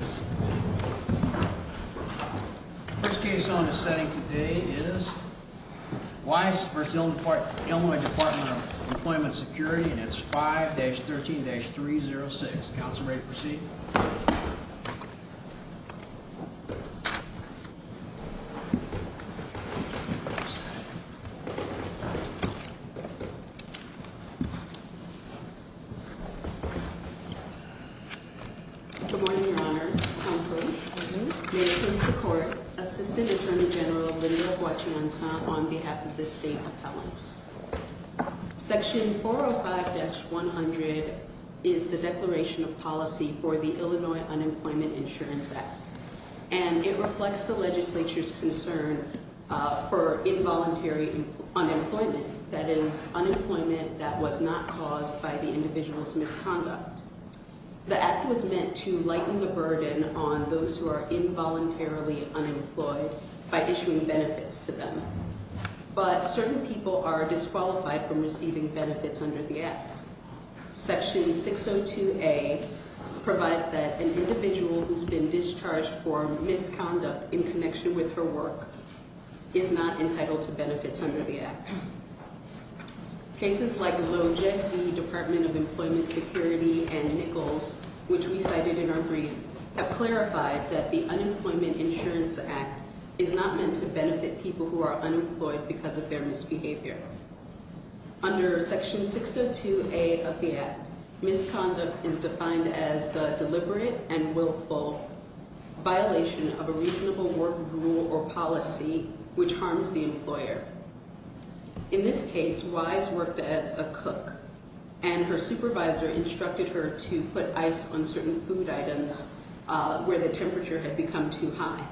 First case on the setting today is Weiss v. Illinois Department of Employment Security and it's 5-13-306. Counselor, ready to proceed? Good morning, your honors. Counselor, may it please the court, Assistant Attorney General Linnea Guachianson on behalf of the State Appellants. Section 405-100 is the declaration of policy for the Illinois Unemployment Insurance Act and it reflects the legislature's concern for involuntary unemployment, that is, unemployment that was not caused by the individual's misconduct. The act was meant to lighten the burden on those who are involuntarily unemployed by issuing benefits to them, but certain people are disqualified from receiving benefits under the act. Section 602A provides that an individual who's been discharged for misconduct in connection with her work is not entitled to benefits under the act. Cases like Lojek v. Department of Employment Security and Nichols, which we cited in our brief, have clarified that the Unemployment Insurance Act is not meant to benefit people who are unemployed because of their misbehavior. Under Section 602A of the act, misconduct is defined as the deliberate and willful violation of a reasonable work rule or policy which harms the employer. In this case, Wise worked as a cook and her supervisor instructed her to put ice on certain food items where the temperature had become too high.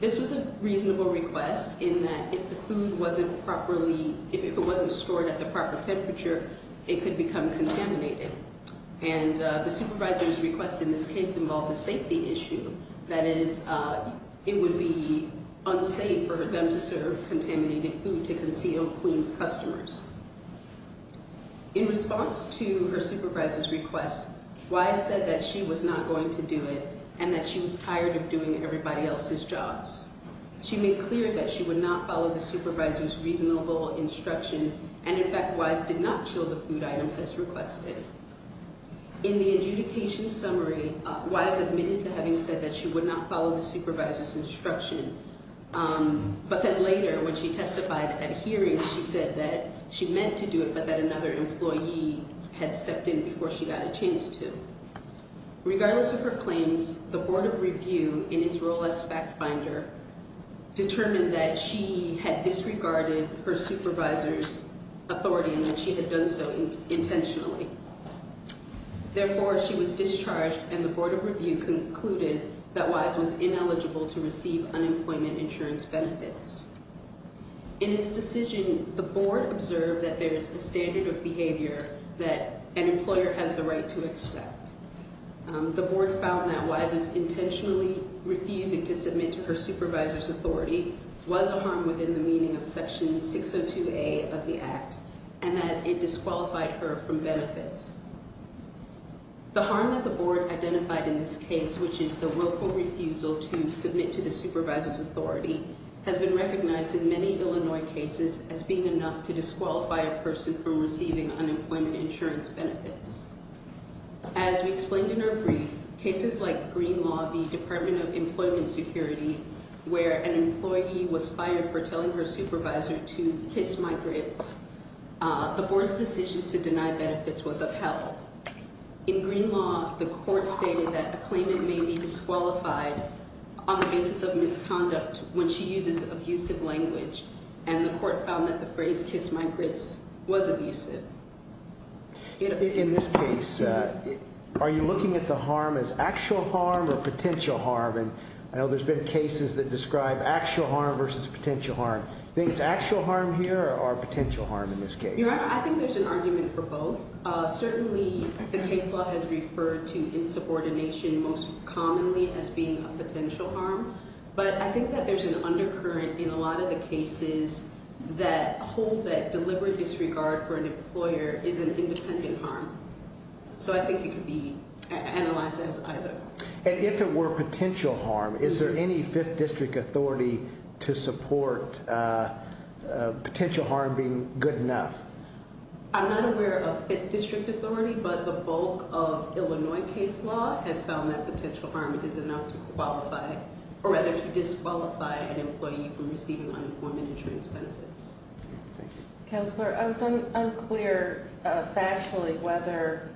This was a reasonable request in that if the food wasn't properly, if it wasn't stored at the proper temperature, it could become contaminated. And the supervisor's request in this case involved a safety issue, that is, it would be unsafe for them to serve contaminated food to conceal clean customers. In response to her supervisor's request, Wise said that she was not going to do it and that she was tired of doing everybody else's jobs. She made clear that she would not follow the supervisor's reasonable instruction and, in fact, Wise did not show the food items as requested. In the adjudication summary, Wise admitted to having said that she would not follow the supervisor's instruction. But then later, when she testified at hearings, she said that she meant to do it but that another employee had stepped in before she got a chance to. Regardless of her claims, the Board of Review, in its role as fact finder, determined that she had disregarded her supervisor's authority and that she had done so intentionally. Therefore, she was discharged and the Board of Review concluded that Wise was ineligible to receive unemployment insurance benefits. In this decision, the Board observed that there is a standard of behavior that an employer has the right to expect. The Board found that Wise's intentionally refusing to submit to her supervisor's authority was a harm within the meaning of Section 602A of the Act and that it disqualified her from benefits. The harm that the Board identified in this case, which is the willful refusal to submit to the supervisor's authority, has been recognized in many Illinois cases as being enough to disqualify a person from receiving unemployment insurance benefits. As we explained in our brief, cases like Green Law v. Department of Employment Security, where an employee was fired for telling her supervisor to kiss my grits, the Board's decision to deny benefits was upheld. In Green Law, the court stated that a claimant may be disqualified on the basis of misconduct when she uses abusive language, and the court found that the phrase kiss my grits was abusive. In this case, are you looking at the harm as actual harm or potential harm? I know there's been cases that describe actual harm versus potential harm. Do you think it's actual harm here or potential harm in this case? I think there's an argument for both. Certainly, the case law has referred to insubordination most commonly as being a potential harm, but I think that there's an undercurrent in a lot of the cases that hold that deliberate disregard for an employer is an independent harm. So I think it could be analyzed as either. And if it were potential harm, is there any 5th District authority to support potential harm being good enough? I'm not aware of 5th District authority, but the bulk of Illinois case law has found that potential harm is enough to qualify, or rather to disqualify an employee from receiving unemployment insurance benefits. Thank you. Counselor, I was unclear factually whether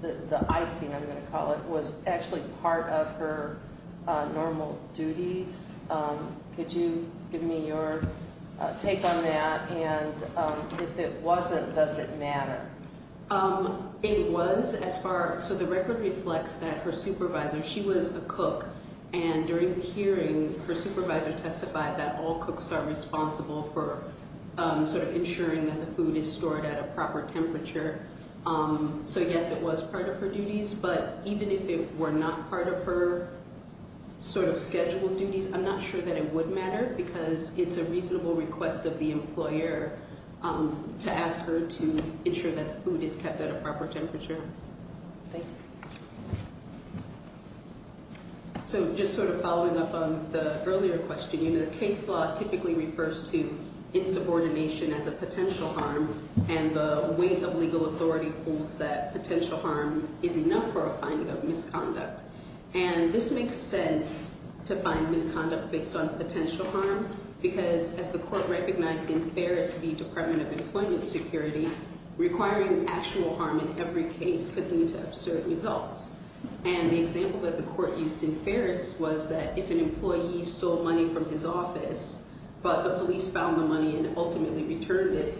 the icing, I'm going to call it, was actually part of her normal duties. Could you give me your take on that? And if it wasn't, does it matter? It was. So the record reflects that her supervisor, she was a cook. And during the hearing, her supervisor testified that all cooks are responsible for sort of ensuring that the food is stored at a proper temperature. So yes, it was part of her duties. But even if it were not part of her sort of scheduled duties, I'm not sure that it would matter because it's a reasonable request of the employer to ask her to ensure that the food is kept at a proper temperature. Thank you. So just sort of following up on the earlier question, you know, the case law typically refers to insubordination as a potential harm, and the weight of legal authority holds that potential harm is enough for a finding of misconduct. And this makes sense to find misconduct based on potential harm because, as the court recognized in Ferris v. Department of Employment Security, requiring actual harm in every case could lead to absurd results. And the example that the court used in Ferris was that if an employee stole money from his office but the police found the money and ultimately returned it,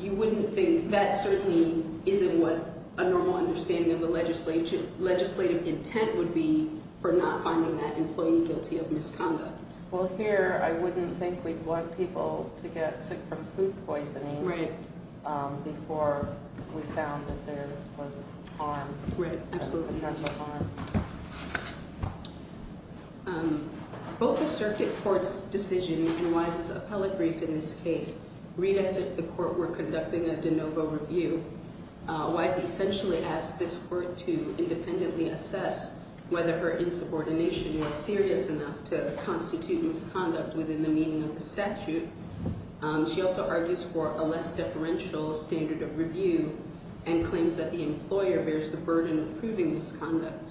you wouldn't think, that certainly isn't what a normal understanding of the legislative intent would be for not finding that employee guilty of misconduct. Well, here I wouldn't think we'd want people to get sick from food poisoning before we found that there was harm. We're absolutely not going to harm. Both the circuit court's decision and Wise's appellate brief in this case read as if the court were conducting a de novo review. Wise essentially asked this court to independently assess whether her insubordination was serious enough to constitute misconduct within the meaning of the statute. She also argues for a less deferential standard of review and claims that the employer bears the burden of proving misconduct.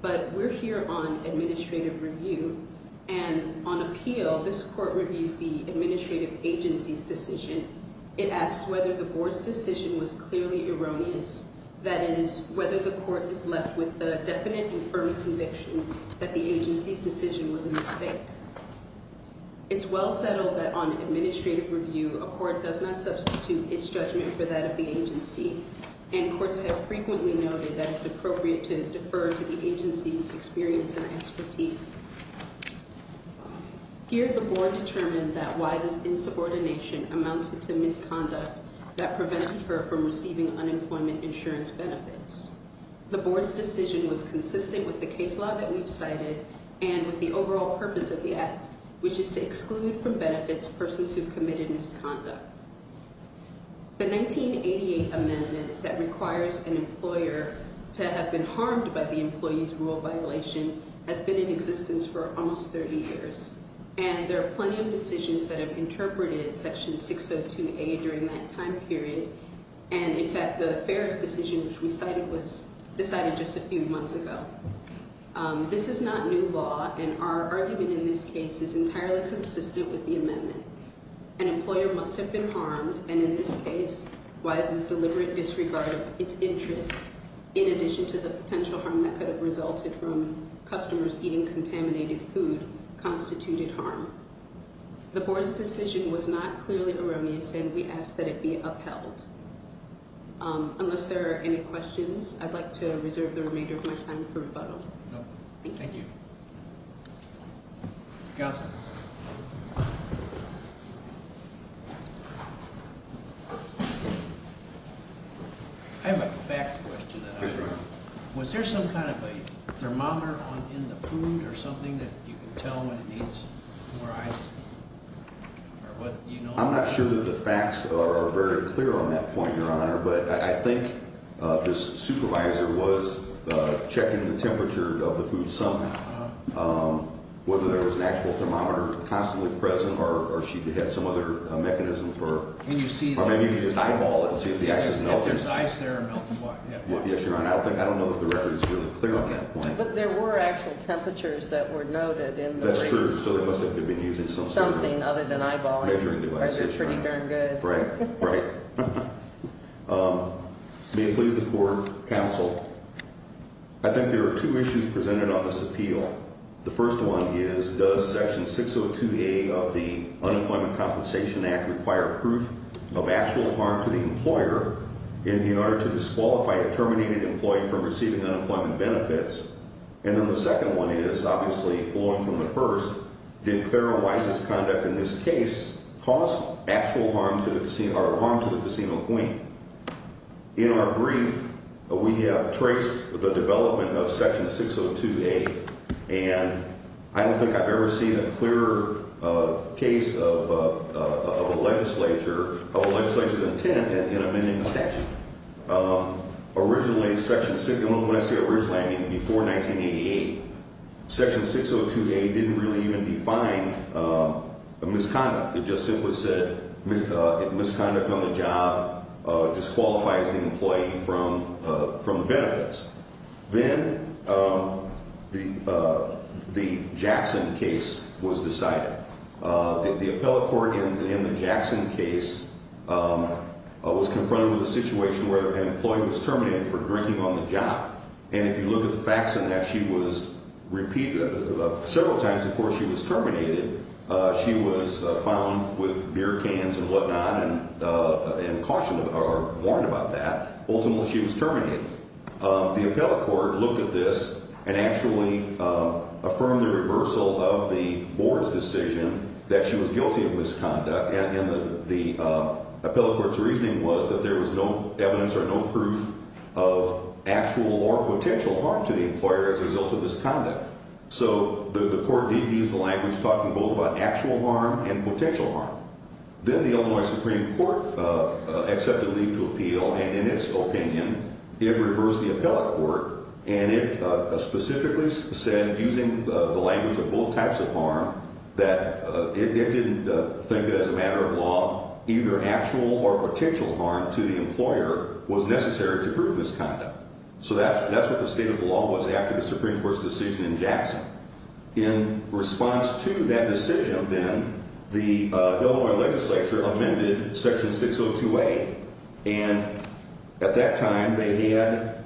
But we're here on administrative review. And on appeal, this court reviews the administrative agency's decision. It asks whether the board's decision was clearly erroneous, that is, whether the court is left with a definite and firm conviction that the agency's decision was a mistake. It's well settled that on administrative review, a court does not substitute its judgment for that of the agency. And courts have frequently noted that it's appropriate to defer to the agency's experience and expertise. Here, the board determined that Wise's insubordination amounted to misconduct that prevented her from receiving unemployment insurance benefits. The board's decision was consistent with the case law that we've cited and with the overall purpose of the act, which is to exclude from benefits persons who've committed misconduct. The 1988 amendment that requires an employer to have been harmed by the employee's rule violation has been in existence for almost 30 years. And there are plenty of decisions that have interpreted Section 602A during that time period. And, in fact, the Ferris decision, which we cited, was decided just a few months ago. This is not new law, and our argument in this case is entirely consistent with the amendment. An employer must have been harmed, and in this case, Wise's deliberate disregard of its interest, in addition to the potential harm that could have resulted from customers eating contaminated food, constituted harm. The board's decision was not clearly erroneous, and we ask that it be upheld. Unless there are any questions, I'd like to reserve the remainder of my time for rebuttal. Thank you. Counsel. I have a fact question. Was there some kind of a thermometer in the food or something that you can tell when it needs more ice? I'm not sure that the facts are very clear on that point, Your Honor, but I think this supervisor was checking the temperature of the food somehow. Whether there was an actual thermometer constantly present, or she had some other mechanism for... Can you see... Or maybe you can just eyeball it and see if the ice is melting. If there's ice there, melting what? Yes, Your Honor. I don't know that the record is really clear on that point. But there were actual temperatures that were noted in the records. That's true. So they must have been using some sort of... Something other than eyeballing. Measuring devices. That's pretty darn good. Right. Right. May it please the court, counsel, I think there are two issues presented on this appeal. The first one is, does Section 602A of the Unemployment Compensation Act require proof of actual harm to the employer in order to disqualify a terminated employee from receiving unemployment benefits? And then the second one is, obviously, following from the first, did Clara Weiss's conduct in this case cause actual harm to the casino queen? In our brief, we have traced the development of Section 602A. And I don't think I've ever seen a clearer case of a legislature's intent in amending a statute. Originally, Section 60... When I say originally, I mean before 1988. Section 602A didn't really even define a misconduct. It just simply said misconduct on the job, disqualifies the employee from benefits. Then the Jackson case was decided. The appellate court in the Jackson case was confronted with a situation where an employee was terminated for drinking on the job. And if you look at the facts of that, she was repeated several times before she was terminated. She was found with beer cans and whatnot and cautioned or warned about that. Ultimately, she was terminated. The appellate court looked at this and actually affirmed the reversal of the board's decision that she was guilty of misconduct. The appellate court's reasoning was that there was no evidence or no proof of actual or potential harm to the employer as a result of this conduct. So the court did use the language talking both about actual harm and potential harm. Then the Illinois Supreme Court accepted leave to appeal. And in its opinion, it reversed the appellate court. And it specifically said, using the language of both types of harm, that it didn't think that as a matter of law, either actual or potential harm to the employer was necessary to prove misconduct. So that's what the state of the law was after the Supreme Court's decision in Jackson. In response to that decision, then, the Illinois legislature amended Section 602A. And at that time, they had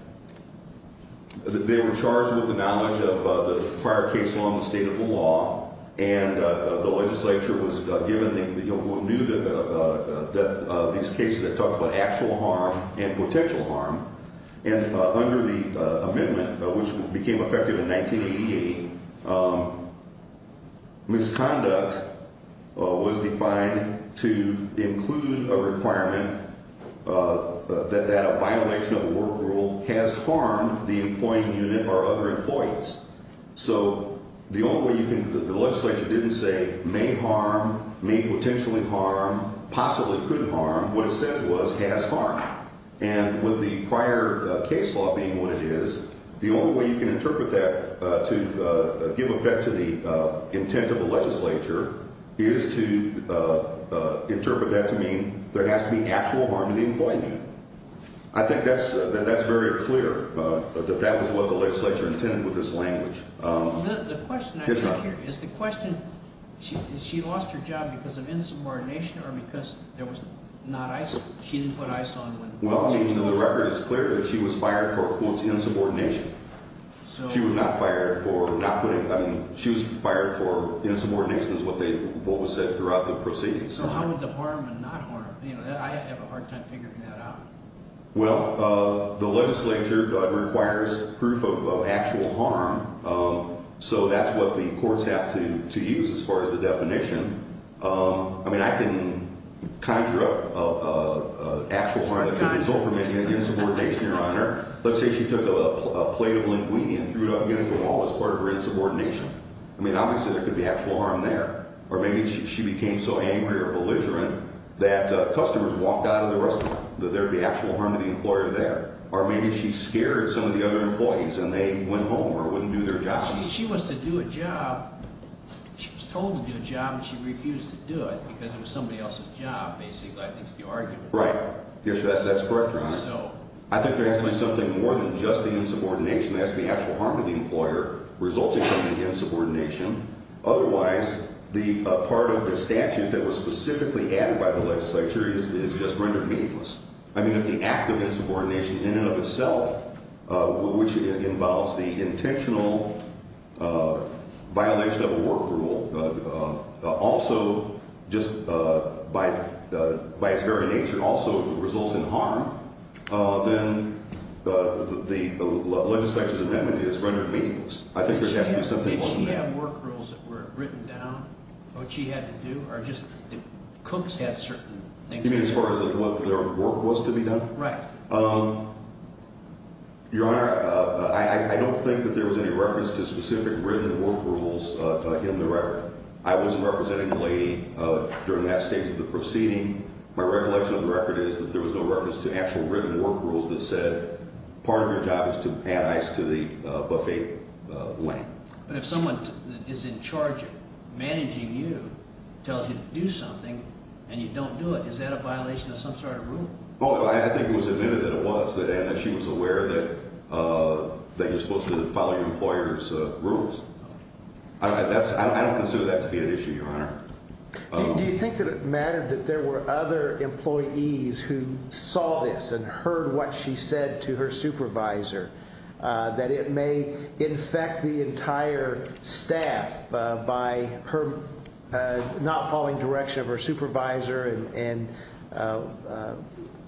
– they were charged with the knowledge of the prior case law in the state of the law. And the legislature was given – knew that these cases had talked about actual harm and potential harm. And under the amendment, which became effective in 1988, misconduct was defined to include a requirement that a violation of a work rule has harmed the employing unit or other employees. So the only way you can – the legislature didn't say may harm, may potentially harm, possibly could harm. What it says was has harmed. And with the prior case law being what it is, the only way you can interpret that to give effect to the intent of the legislature is to interpret that to mean there has to be actual harm to the employee. I think that's – that that's very clear, that that was what the legislature intended with this language. The question I have here is the question – is she lost her job because of insubordination or because there was not – she didn't put ICE on when – Well, I mean, the record is clear that she was fired for, quote, insubordination. So – She was not fired for not putting – I mean, she was fired for insubordination is what they – what was said throughout the proceedings. So how would the harm and not harm – you know, I have a hard time figuring that out. Well, the legislature requires proof of actual harm, so that's what the courts have to use as far as the definition. I mean, I can conjure up actual harm that could result from making an insubordination, Your Honor. Let's say she took a plate of linguine and threw it up against the wall as part of her insubordination. I mean, obviously there could be actual harm there. Or maybe she became so angry or belligerent that customers walked out of the restaurant. There would be actual harm to the employer there. Or maybe she scared some of the other employees and they went home or wouldn't do their jobs. She was to do a job. She was told to do a job and she refused to do it because it was somebody else's job, basically, I think is the argument. Right. Yes, that's correct, Your Honor. So – I think there has to be something more than just the insubordination. That's the actual harm to the employer resulting from the insubordination. Otherwise, the part of the statute that was specifically added by the legislature is just rendered meaningless. I mean, if the act of insubordination in and of itself, which involves the intentional violation of a work rule, also just by its very nature also results in harm, then the legislature's amendment is rendered meaningless. I think there has to be something more than that. Did she have work rules that were written down, what she had to do? Or just – Cooks had certain things – You mean as far as what their work was to be done? Right. Your Honor, I don't think that there was any reference to specific written work rules in the record. I wasn't representing the lady during that stage of the proceeding. My recollection of the record is that there was no reference to actual written work rules that said, part of your job is to add ice to the buffet lane. But if someone is in charge of managing you, tells you to do something, and you don't do it, is that a violation of some sort of rule? I think it was admitted that it was, that she was aware that you're supposed to follow your employer's rules. I don't consider that to be an issue, Your Honor. Do you think that it mattered that there were other employees who saw this and heard what she said to her supervisor, that it may infect the entire staff by her not following direction of her supervisor and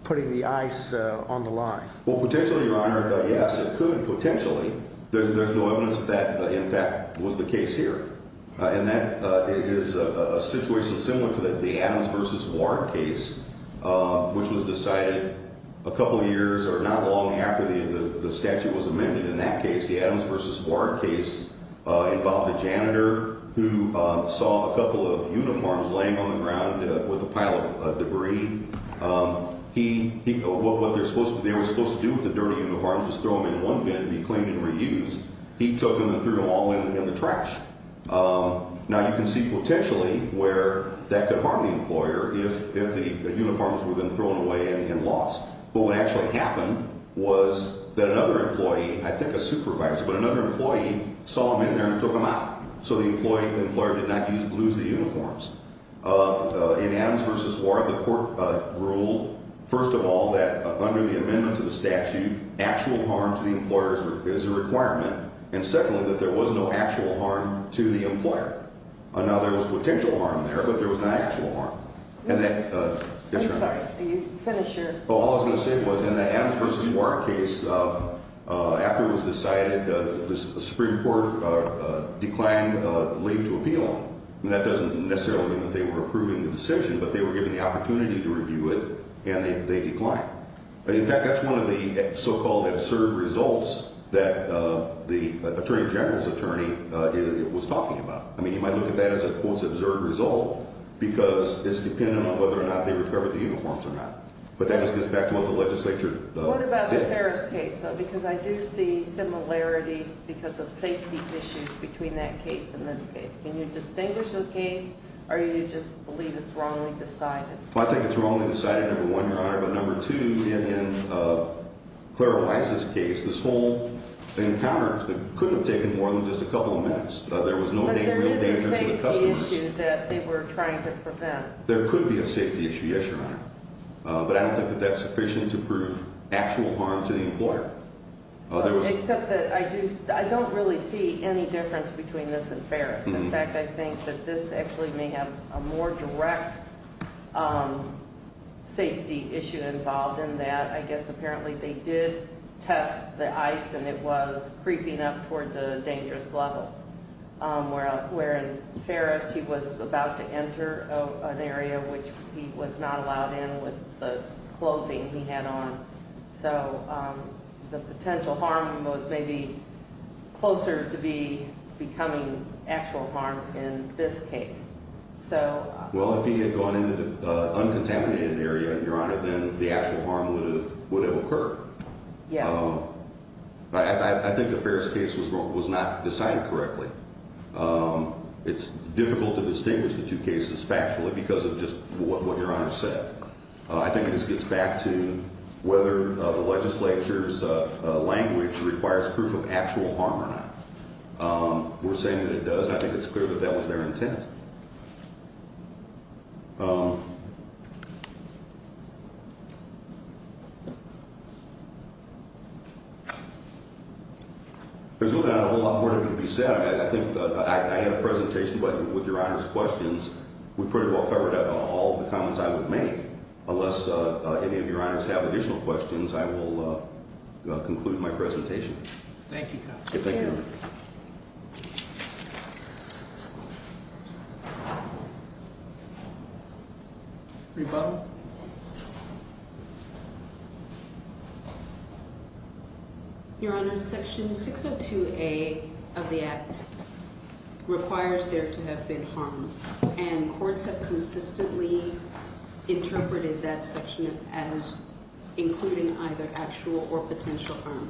putting the ice on the line? Well, potentially, Your Honor, yes, it could, potentially. There's no evidence that that, in fact, was the case here. And that is a situation similar to the Adams v. Ward case, which was decided a couple years, or not long after the statute was amended in that case. The Adams v. Ward case involved a janitor who saw a couple of uniforms laying on the ground with a pile of debris. He, what they were supposed to do with the dirty uniforms was throw them in one bin and be cleaned and reused. He took them and threw them all in the trash. Now, you can see potentially where that could harm the employer if the uniforms were then thrown away and lost. But what actually happened was that another employee, I think a supervisor, but another employee saw them in there and took them out. So the employer did not lose the uniforms. In Adams v. Ward, the court ruled, first of all, that under the amendment to the statute, actual harm to the employer is a requirement, and secondly, that there was no actual harm to the employer. Now, there was potential harm there, but there was not actual harm. I'm sorry, finish your. Well, all I was going to say was in the Adams v. Ward case, after it was decided, the Supreme Court declined leave to appeal. That doesn't necessarily mean that they were approving the decision, but they were given the opportunity to review it, and they declined. In fact, that's one of the so-called absurd results that the attorney general's attorney was talking about. I mean, you might look at that as a, quote, absurd result because it's dependent on whether or not they recovered the uniforms or not. But that just gets back to what the legislature did. What about the Ferris case, though? Because I do see similarities because of safety issues between that case and this case. Can you distinguish the case, or do you just believe it's wrongly decided? Well, I think it's wrongly decided, number one, Your Honor. But number two, in Clara Price's case, this whole encounter couldn't have taken more than just a couple of minutes. There was no real danger to the customers. But there is a safety issue that they were trying to prevent. There could be a safety issue, yes, Your Honor. But I don't think that that's sufficient to prove actual harm to the employer. Except that I don't really see any difference between this and Ferris. In fact, I think that this actually may have a more direct safety issue involved in that. I guess apparently they did test the ice, and it was creeping up towards a dangerous level. Where in Ferris, he was about to enter an area which he was not allowed in with the clothing he had on. So the potential harm was maybe closer to becoming actual harm in this case. Well, if he had gone into the uncontaminated area, Your Honor, then the actual harm would have occurred. Yes. I think the Ferris case was not decided correctly. It's difficult to distinguish the two cases factually because of just what Your Honor said. I think this gets back to whether the legislature's language requires proof of actual harm or not. We're saying that it does, and I think it's clear that that was their intent. There's not a whole lot more to be said. I think I had a presentation with Your Honor's questions. We pretty well covered all the comments I would make. Unless any of Your Honors have additional questions, I will conclude my presentation. Thank you, counsel. Thank you, Your Honor. Rebuttal. Your Honor, Section 602A of the Act requires there to have been harm, and courts have consistently interpreted that section as including either actual or potential harm.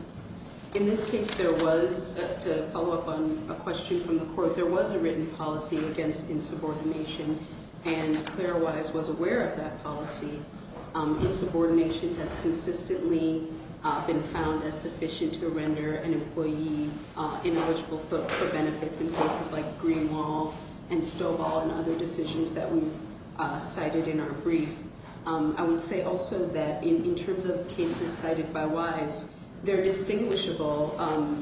In this case, there was, to follow up on a question from the court, there was a written policy against insubordination, and Clara Wise was aware of that policy. Insubordination has consistently been found as sufficient to render an employee ineligible for benefits in cases like Greenwall and Stovall and other decisions that we've cited in our brief. I would say also that in terms of cases cited by Wise, they're distinguishable,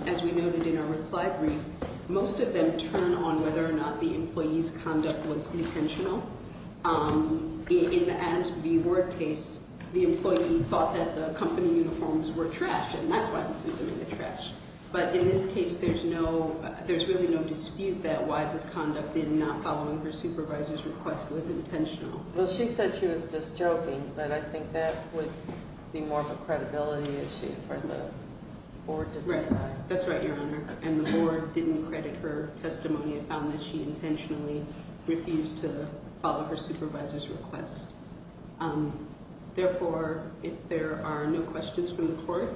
as we noted in our reply brief. Most of them turn on whether or not the employee's conduct was intentional. In the Adams v. Ward case, the employee thought that the company uniforms were trash, and that's why we threw them in the trash. But in this case, there's really no dispute that Wise's conduct in not following her supervisor's request was intentional. Well, she said she was just joking, but I think that would be more of a credibility issue for the board to decide. That's right, Your Honor. And the board didn't credit her testimony and found that she intentionally refused to follow her supervisor's request. Therefore, if there are no questions from the court,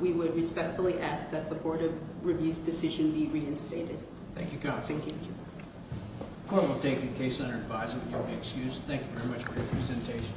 we would respectfully ask that the Board of Review's decision be reinstated. Thank you, Counsel. Thank you. The court will take the case under advisement. You'll be excused. Thank you very much for your presentation.